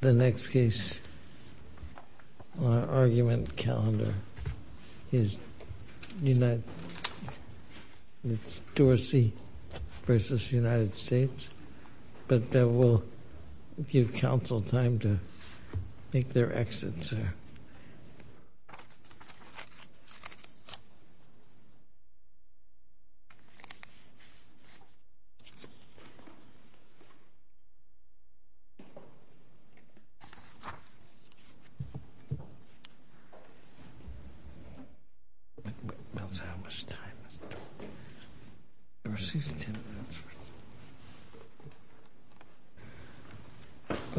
The next case on our argument calendar is Dorsey v. United States, but we'll give counsel time to make their exits.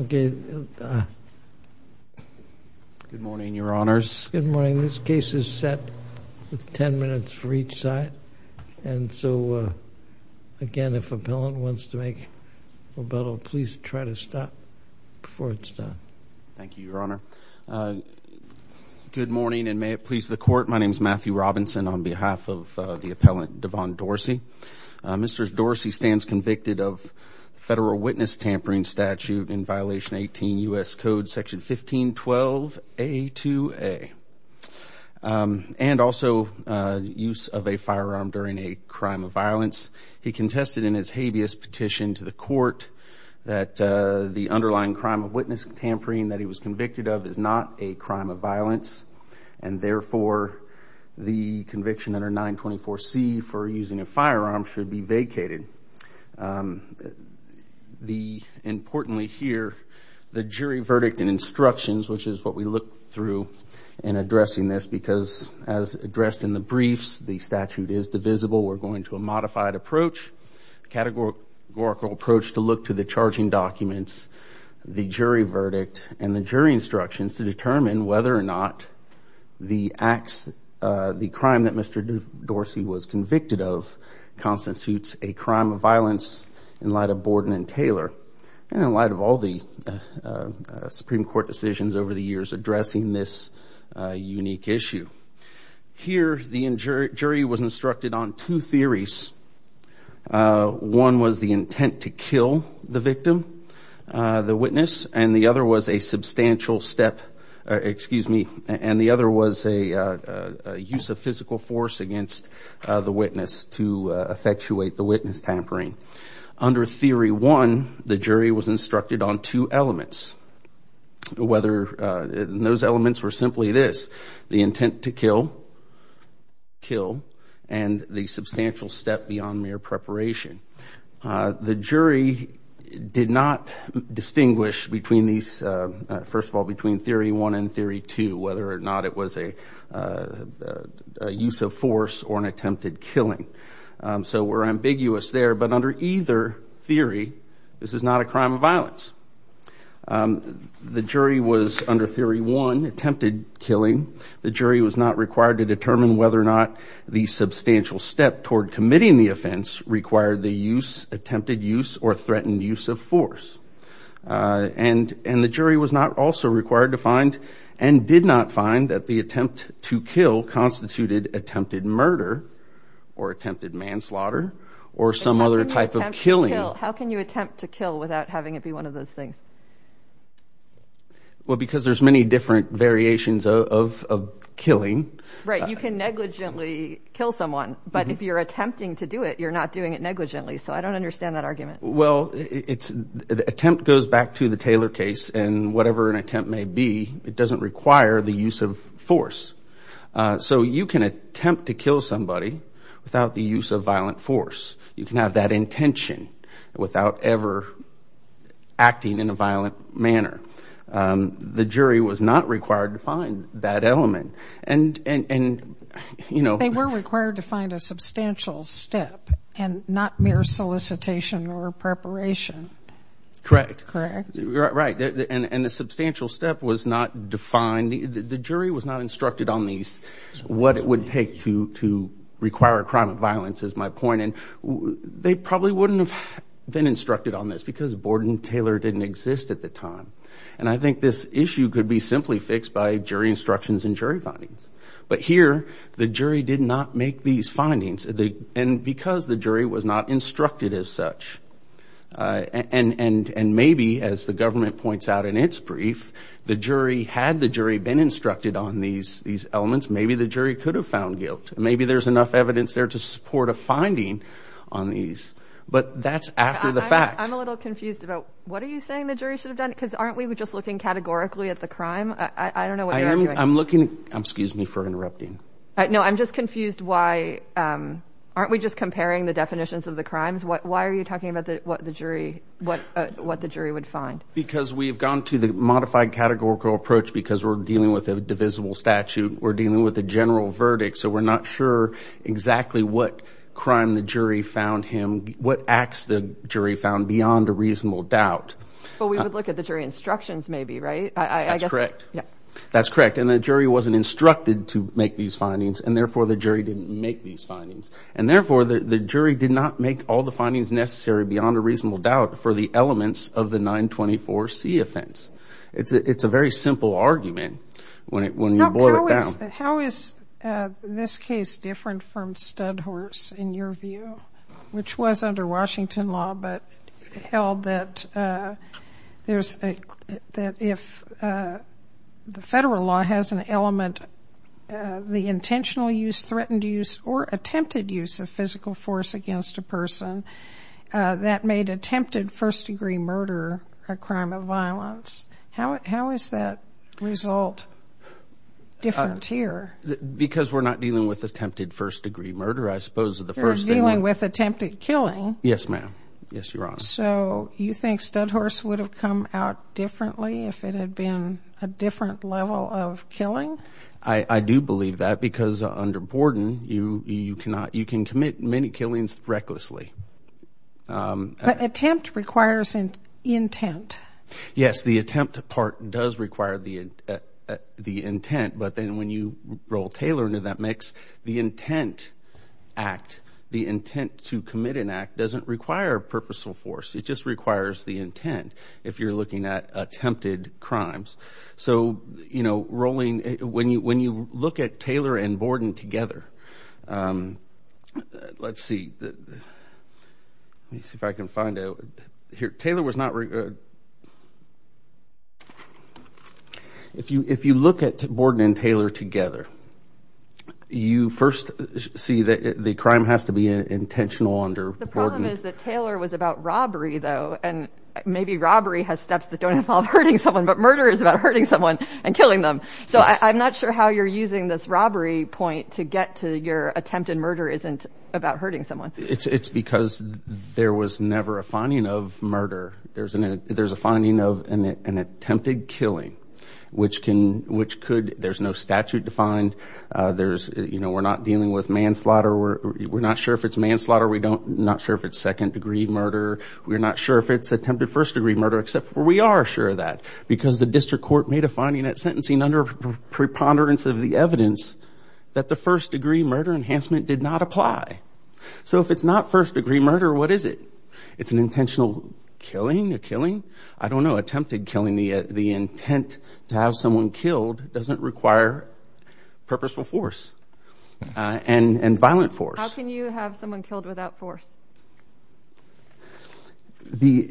Good morning, your honors. Good morning. This case is set with 10 minutes for each side. And so again, if appellant wants to make a battle, please try to stop before it's done. Thank you, your honor. Good morning, and may it please the court. My name is Matthew Robinson on behalf of the appellant Devon Dorsey. Mr. Dorsey stands convicted of federal witness tampering statute in violation 18 U. S. Code section 1512 A to A and also use of a firearm during a crime of violence. He contested in his habeas petition to the court that the underlying crime of witness tampering that he was convicted of is not a crime of violence, and therefore the conviction under 924 C for using a which is what we look through in addressing this, because as addressed in the briefs, the statute is divisible. We're going to a modified approach, categorical approach to look to the charging documents, the jury verdict, and the jury instructions to determine whether or not the acts the crime that Mr Dorsey was convicted of constitutes a crime of violence in light of Borden and Taylor and in light of all the Supreme Court decisions over the years addressing this unique issue. Here, the jury was instructed on two theories. One was the intent to kill the use of physical force against the witness to effectuate the witness tampering. Under theory one, the jury was instructed on two elements, whether those elements were simply this, the intent to kill, kill and the substantial step beyond mere preparation. The jury did not distinguish between these, whether or not it was a use of force or an attempted killing. So we're ambiguous there, but under either theory, this is not a crime of violence. The jury was under theory one attempted killing. The jury was not required to determine whether or not the substantial step toward committing the offense required the use, attempted use or threatened use of force. And the jury was not also required to find and did not find that the attempt to kill constituted attempted murder or attempted manslaughter or some other type of killing. How can you attempt to kill without having it be one of those things? Well, because there's many different variations of killing. Right. You can negligently kill someone, but if you're attempting to do it, you're not doing it negligently. So I don't understand that argument. Well, it's the attempt goes back to the Taylor case. And whatever an attempt may be, it doesn't require the use of force. So you can attempt to kill somebody without the use of violent force. You can have that intention without ever acting in a violent manner. The jury was not required to find that element. And, you know, they were required to find a substantial step and not mere solicitation or preparation. Correct. Correct. Right. And the substantial step was not defined. The jury was not instructed on these, what it would take to to require a crime of violence, as my point. And they probably wouldn't have been instructed on this because Borden Taylor didn't exist at the time. And I think this issue could be simply fixed by jury instructions and jury findings. But here, the jury did not make these findings. And because the jury was not instructed as such and maybe as the government points out in its brief, the jury had the jury been instructed on these these elements, maybe the jury could have found guilt. Maybe there's enough evidence there to support a finding on these. But that's after the fact. I'm a little confused about what are you saying the jury should have done because aren't we just looking categorically at the crime? I don't know what I'm looking. I'm excuse me for interrupting. No, I'm just confused. Why aren't we just comparing the definitions of the crimes? Why are you talking about what the jury what what the jury would find? Because we've gone to the modified categorical approach because we're dealing with a divisible statute. We're dealing with a general verdict. So we're not sure exactly what crime the jury found him, what acts the jury found beyond a reasonable doubt. But we would look at the jury instructions, maybe. Right. That's correct. Yeah, that's correct. And the jury wasn't instructed to make these findings and therefore the jury didn't make these findings. And therefore, the jury did not make all the findings necessary beyond a reasonable doubt for the elements of the 924 C offense. It's a very simple argument when it when you boil it down. How is this case different from Stud Horse in your view, which was under Washington law, but held that there's that if the federal law has an element, the intentional use, threatened use or attempted use of physical force against a person that made attempted first degree murder a crime of violence. How is that result different here? Because we're not dealing with attempted first degree murder, I suppose, the first dealing with attempted killing. Yes, ma'am. Yes, you're on. So you think Stud Horse would have come out differently if it had been a different level of killing? I do believe that because under Borden, you you cannot you can commit many killings recklessly. But attempt requires an intent. Yes, the attempt part does require the the intent. But then when you roll Taylor into that mix, the intent act, the intent to commit an act doesn't require purposeful force. It just requires the intent. If you're looking at attempted crimes. So, you know, rolling when you when you look at Taylor and Borden together, let's see if I can find out here. Taylor was not. If you if you look at Borden and Taylor together, you first see that the crime has to be intentional under the problem is that Taylor was about robbery, though. And maybe robbery has steps that don't involve hurting someone. But murder is about hurting someone and killing them. So I'm not sure how you're using this robbery point to get to your attempt. And murder isn't about hurting someone. It's because there was never a finding of murder. There's an there's a finding of an attempted killing which can which could there's no statute defined. There's you know, we're not dealing with manslaughter. We're not sure if it's manslaughter. We don't not sure if it's second degree murder. We're not sure if it's attempted first degree murder, except we are sure that because the district court made a finding that sentencing under preponderance of the evidence that the first degree murder enhancement did not apply. So if it's not first degree murder, what is it? It's an intentional killing a killing. I don't know. Attempted killing the the intent to have someone killed doesn't require purposeful force and violent force. How can you have someone killed without force? The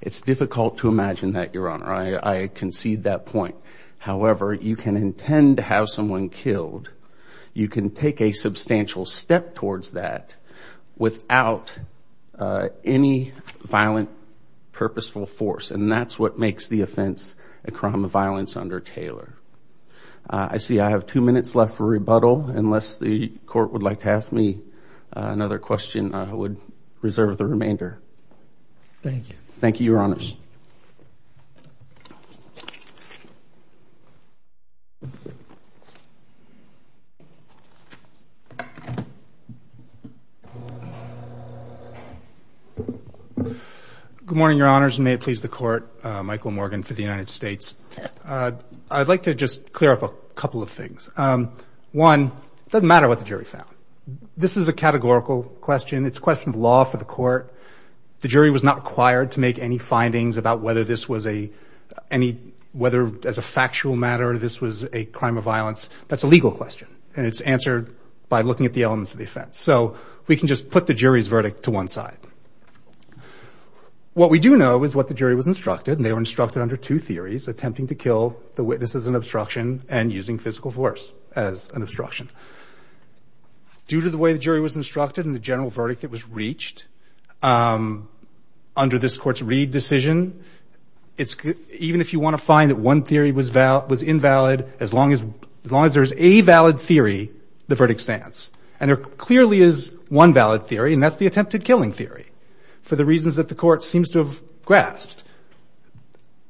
it's difficult to imagine that your honor. I concede that point. However, you can intend to have someone killed. You can take a substantial step towards that without any violent purposeful force. And that's what makes the offense a crime of violence under Taylor. I see. I have two minutes left for rebuttal. Unless the court would like to ask me another question, I would reserve the remainder. Thank you. Thank you, your honors. Good morning, your honors. May it please the court. Michael Morgan for the United States. I'd like to just clear up a couple of things. One doesn't matter what the jury found. This is a categorical question. It's a question of law for the court. The jury was not required to make any findings about whether this was a any whether as a factual matter. This was a crime of violence. That's a legal question and it's answered by looking at the elements of the offense. So we can just put the jury's verdict to one side. What we do know is what the jury was instructed and they were instructed under two theories. Attempting to kill the witness as an obstruction and using physical force as an obstruction. Due to the way the jury was instructed and the general verdict that was reached under this court's Reid decision, it's even if you want to find that one theory was invalid, as long as there's a valid theory, the verdict stands. And there clearly is one valid theory and that's the attempted killing theory for the reasons that the court seems to have grasped.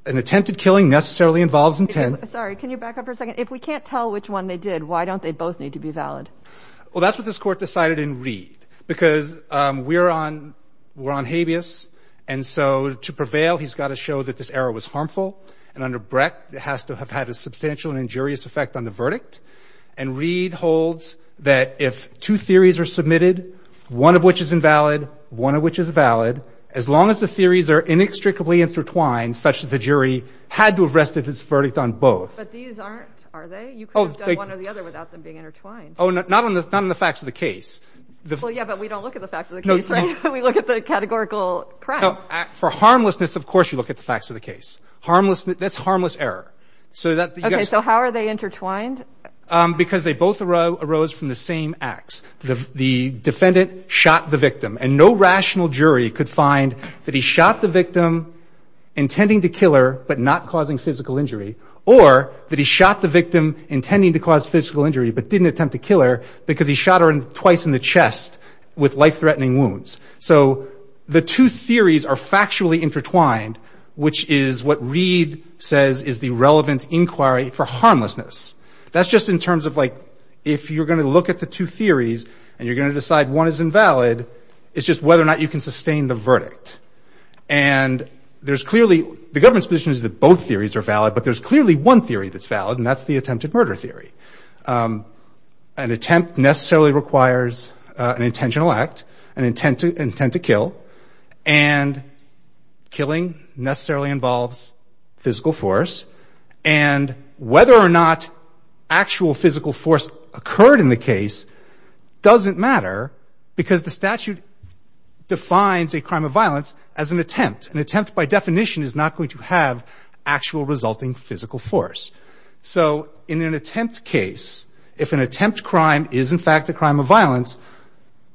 An attempted killing necessarily involves intent. Sorry, can you back up for a second? If we can't tell which one they did, why don't they both need to be valid? Well, that's what this court decided in Reid because we're on we're on habeas. And so to prevail, he's got to show that this error was harmful. And under Brecht, it has to have had a substantial and injurious effect on the verdict. And Reid holds that if two theories are submitted, one of which is invalid, one of which is valid, as long as the theories are inextricably intertwined such that the jury had to have rested its verdict on both. But these aren't, are they? You could have done one or the other without them being intertwined. Oh, not on the facts of the case. Well, yeah, but we don't look at the facts of the case, right? We look at the categorical crime. No, for harmlessness, of course, you look at the facts of the case. Harmlessness, that's harmless error. So that. OK, so how are they intertwined? Because they both arose from the same acts. The defendant shot the victim, and no rational jury could find that he shot the victim intending to kill her, but not causing physical injury, or that he shot the victim intending to cause physical injury, but didn't attempt to kill her because he shot her twice in the chest with life-threatening wounds. So the two theories are factually intertwined, which is what Reid says is the relevant inquiry for harmlessness. That's just in terms of, like, if you're going to look at the two theories and you're going to decide one is invalid, it's just whether or not you can sustain the verdict. And there's clearly, the government's position is that both theories are valid, but there's clearly one theory that's valid, and that's the attempted murder theory. An attempt necessarily requires an intentional act, an intent to kill, and killing necessarily involves physical force. And whether or not actual physical force occurred in the case doesn't matter, because the statute defines a crime of violence as an attempt. An attempt, by definition, is not going to have actual resulting physical force. So in an attempt case, if an attempt crime is, in fact, a crime of violence,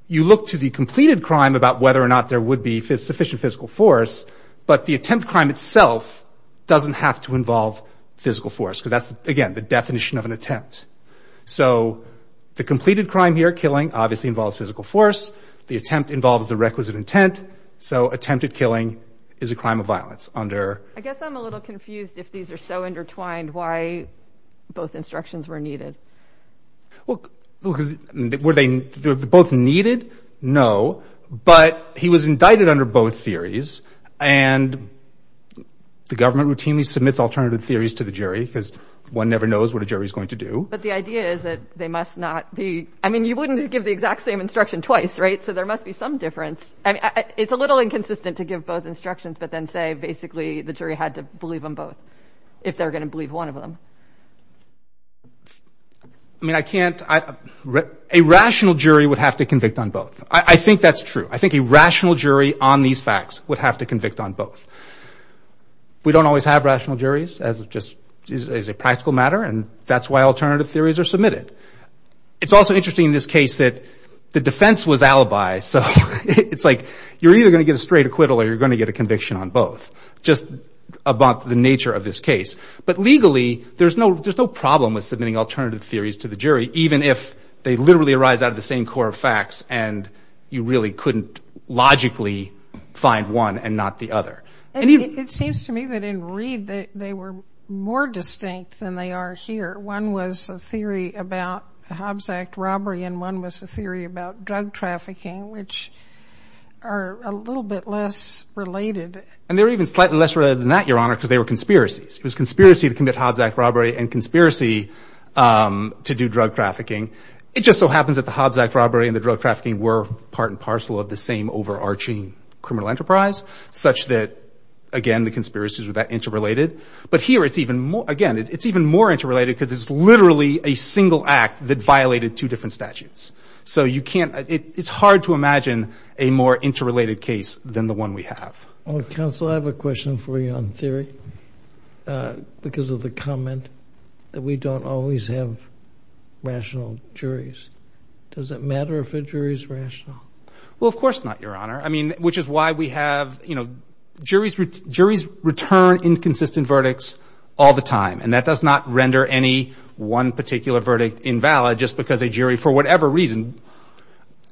you look to the completed crime about whether or not there would be sufficient physical force, but the attempt crime itself doesn't have to involve physical force, because that's, again, the definition of an attempt. So the completed crime here, killing, obviously involves physical force. The attempt involves the requisite intent. So attempted killing is a crime of violence under... I guess I'm a little confused if these are so intertwined why both instructions were needed. Well, were they both needed? No, but he was indicted under both theories. And the government routinely submits alternative theories to the jury, because one never knows what a jury is going to do. But the idea is that they must not be... I mean, you wouldn't give the exact same instruction twice, right? So there must be some difference. It's a little inconsistent to give both instructions, but then say, basically, the jury had to believe them both, if they're going to believe one of them. I mean, I can't... A rational jury would have to convict on both. I think that's true. I think a rational jury on these facts would have to convict on both. We don't always have rational juries as a practical matter, and that's why alternative theories are submitted. It's also interesting in this case that the defense was alibi. So it's like you're either going to get a straight acquittal or you're going to get a conviction on both, just about the nature of this case. But legally, there's no problem with submitting alternative theories to the jury, even if they literally arise out of the same core of facts and you really couldn't logically find one and not the other. It seems to me that in Reed, they were more distinct than they are here. One was a theory about Hobbs Act robbery, and one was a theory about drug trafficking, which are a little bit less related. And they're even slightly less related than that, Your Honor, because they were conspiracies. It was conspiracy to commit Hobbs Act robbery and conspiracy to do drug trafficking. It just so happens that the Hobbs Act robbery and the drug trafficking were part and parcel of the same overarching criminal enterprise, such that, again, the conspiracies were that interrelated. But here, it's even more, again, it's even more interrelated because it's literally a single act that violated two different statutes. So you can't, it's hard to imagine a more interrelated case than the one we have. Counsel, I have a question for you on theory, because of the comment that we don't always have rational juries. Does it matter if a jury is rational? Well, of course not, Your Honor. I mean, which is why we have, you know, juries return inconsistent verdicts all the time. And that does not render any one particular verdict invalid just because a jury, for whatever reason,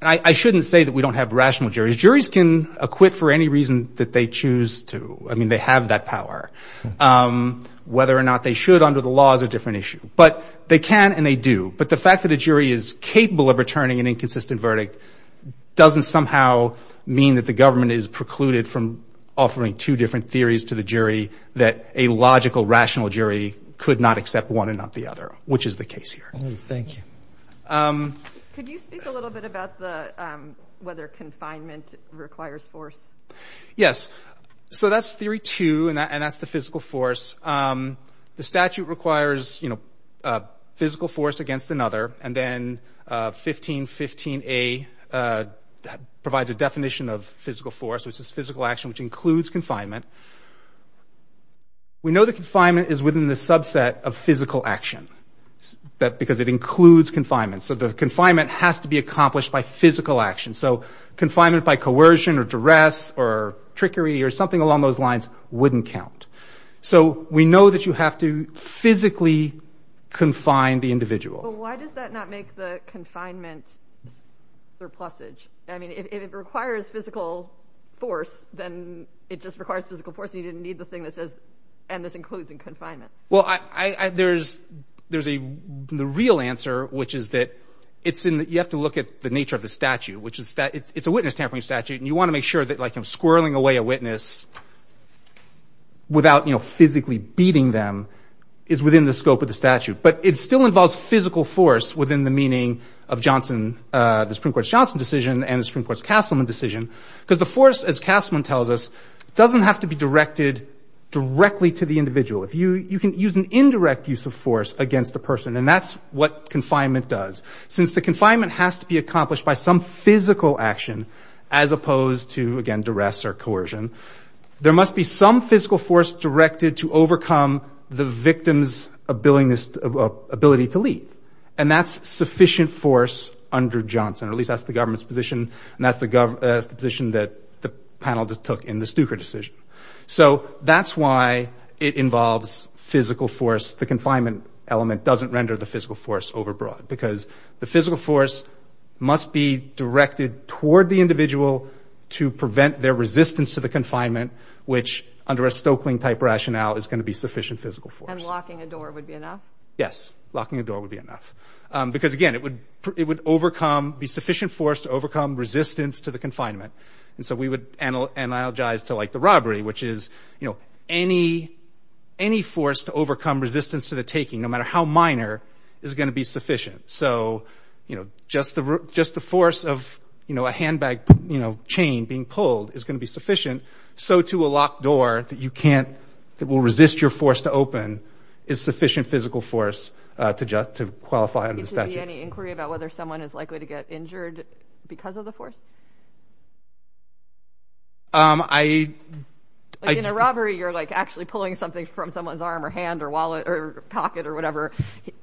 I shouldn't say that we don't have rational juries. Juries can acquit for any reason that they choose to. I mean, they have that power. Whether or not they should under the law is a different issue. But they can and they do. But the fact that a jury is capable of returning an inconsistent verdict doesn't somehow mean that the government is precluded from offering two different theories to the jury that a logical, rational jury could not accept one and not the other, which is the case here. Thank you. Could you speak a little bit about the, whether confinement requires force? Yes. So that's theory two, and that's the physical force. The statute requires, you know, physical force against another. And then 1515A provides a definition of physical force, which is physical action, which includes confinement. We know that confinement is within the subset of physical action because it includes confinement. So the confinement has to be accomplished by physical action. So confinement by coercion or duress or trickery or something along those lines wouldn't count. So we know that you have to physically confine the individual. But why does that not make the confinement surplusage? I mean, if it requires physical force, then it just requires physical force and you didn't need the thing that says, and this includes in confinement. Well, I, there's, there's a, the real answer, which is that it's in, you have to look at the nature of the statute, which is that it's a witness tampering statute. And you want to make sure that, like, I'm squirreling away a witness without, you know, physically beating them, is within the scope of the statute. But it still involves physical force within the meaning of Johnson, the Supreme Court's Johnson decision and the Supreme Court's Castleman decision. Because the force, as Castleman tells us, doesn't have to be directed directly to the individual. If you, you can use an indirect use of force against the person. And that's what confinement does. Since the confinement has to be accomplished by some physical action, as opposed to, again, duress or coercion, there must be some physical force directed to overcome the victim's ability to leave. And that's sufficient force under Johnson, or at least that's the government's position. And that's the position that the panel just took in the Stuker decision. So that's why it involves physical force. The confinement element doesn't render the physical force overbroad because the physical force must be directed toward the individual to prevent their resistance to the confinement, which, under a Stokeling-type rationale, is going to be sufficient physical force. And locking a door would be enough? Yes, locking a door would be enough. Because, again, it would overcome, be sufficient force to overcome resistance to the confinement. And so we would analogize to, like, the robbery, which is, you know, any force to overcome resistance to the taking, no matter how minor, is going to be sufficient. So, you know, just the force of, you know, a handbag, you know, chain being pulled is going to be sufficient. So to a locked door that you can't, that will resist your force to open is sufficient physical force to qualify under the statute. Is there any inquiry about whether someone is likely to get injured because of the force? I... In a robbery, you're, like, actually pulling something from someone's arm or hand or wallet or pocket or whatever.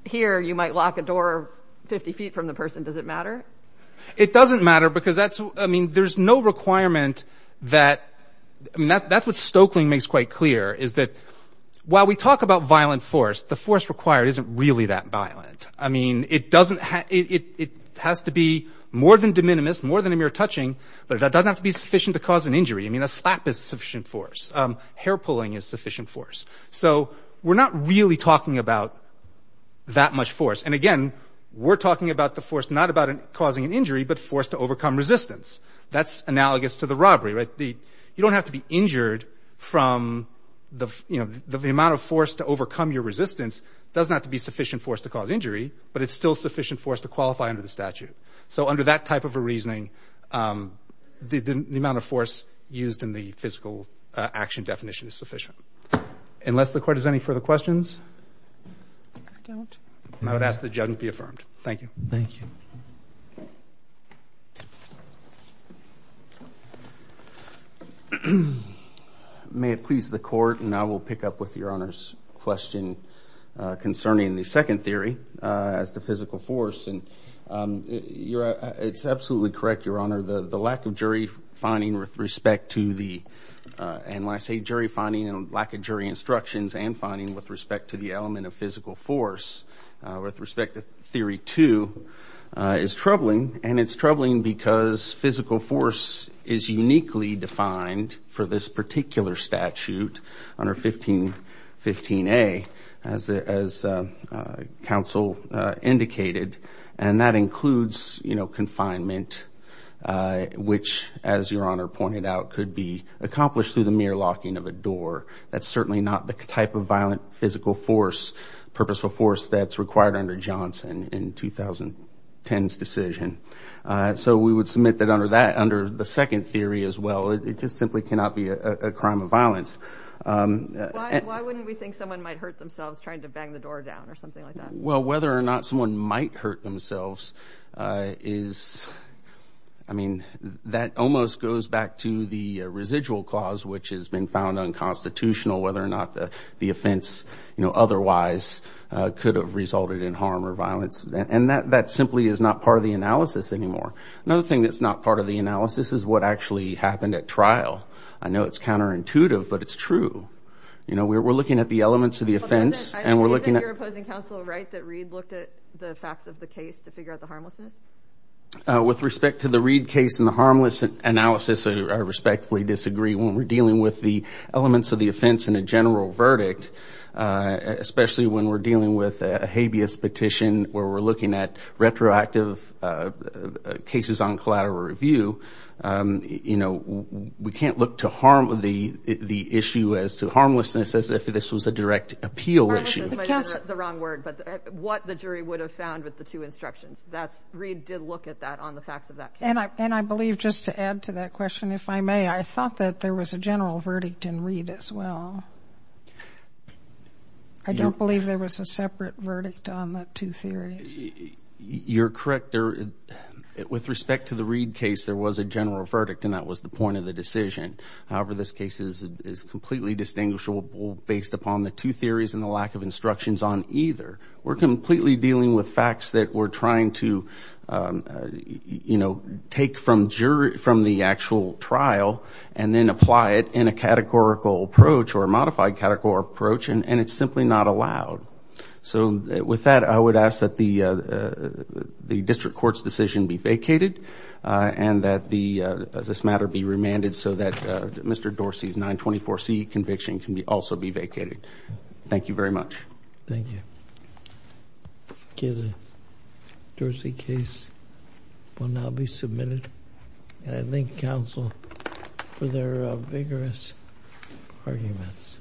Here, you might lock a door 50 feet from the person. Does it matter? It doesn't matter because that's, I mean, there's no requirement that, I mean, that's what Stokeling makes quite clear, is that while we talk about violent force, the force required isn't really that violent. I mean, it doesn't, it has to be more than de minimis, more than a mere touching, but it doesn't have to be sufficient to cause an injury. I mean, a slap is sufficient force. Hair pulling is sufficient force. So we're not really talking about that much force. And again, we're talking about the force not about causing an injury, but force to overcome resistance. That's analogous to the robbery, right? The, you don't have to be injured from the, you know, the amount of force to overcome your resistance does not have to be sufficient force to cause injury, but it's still sufficient force to qualify under the statute. So under that type of a reasoning, the amount of force used in the physical action definition is sufficient. Unless the court has any further questions? I don't. I would ask that judgment be affirmed. Thank you. Thank you. May it please the court, and I will pick up with Your Honor's question concerning the second theory, as to physical force. And you're, it's absolutely correct, Your Honor, the lack of jury finding with respect to the, and when I say jury finding and lack of jury instructions and finding with respect to the element of physical force, with respect to theory two, is troubling. And it's troubling because physical force is uniquely defined for this particular statute under 15, 15A, as counsel indicated. And that includes, you know, confinement, which as Your Honor pointed out, could be accomplished through the mere locking of a door. That's certainly not the type of violent physical force, purposeful force that's required under Johnson in 2010's decision. So we would submit that under that, under the second theory as well, it just simply cannot be a crime of violence. Why wouldn't we think someone might hurt themselves trying to bang the door down or something like that? Well, whether or not someone might hurt themselves is, I mean, that almost goes back to the residual clause, which has been found unconstitutional, whether or not the offense, you know, otherwise could have resulted in harm or violence. And that simply is not part of the analysis anymore. Another thing that's not part of the analysis is what actually happened at trial. I know it's counterintuitive, but it's true. You know, we're looking at the elements of the offense and we're looking at... I think you're opposing counsel, right, that Reed looked at the facts of the case to figure out the harmlessness? With respect to the Reed case and the harmless analysis, I respectfully disagree. When we're dealing with the elements of the offense and a general verdict, especially when we're dealing with a habeas petition, where we're looking at retroactive cases on collateral review, you know, we can't look to harm the issue as to harmlessness as if this was a direct appeal issue. Harmlessness might be the wrong word, but what the jury would have found with the two instructions. That's... Reed did look at that on the facts of that case. And I believe, just to add to that question, if I may, I thought that there was a general verdict in Reed as well. I don't believe there was a separate verdict on the two theories. You're correct. With respect to the Reed case, there was a general verdict and that was the point of the decision. However, this case is completely distinguishable based upon the two theories and the lack of instructions on either. We're completely dealing with facts that we're trying to, you know, take from the actual trial and then apply it in a categorical approach or a modified categorical approach and it's simply not allowed. So, with that, I would ask that the district court's decision be vacated and that this matter be remanded so that Mr. Dorsey's 924C conviction can also be vacated. Thank you very much. Thank you. Okay, the Dorsey case will now be submitted and I thank counsel for their vigorous arguments.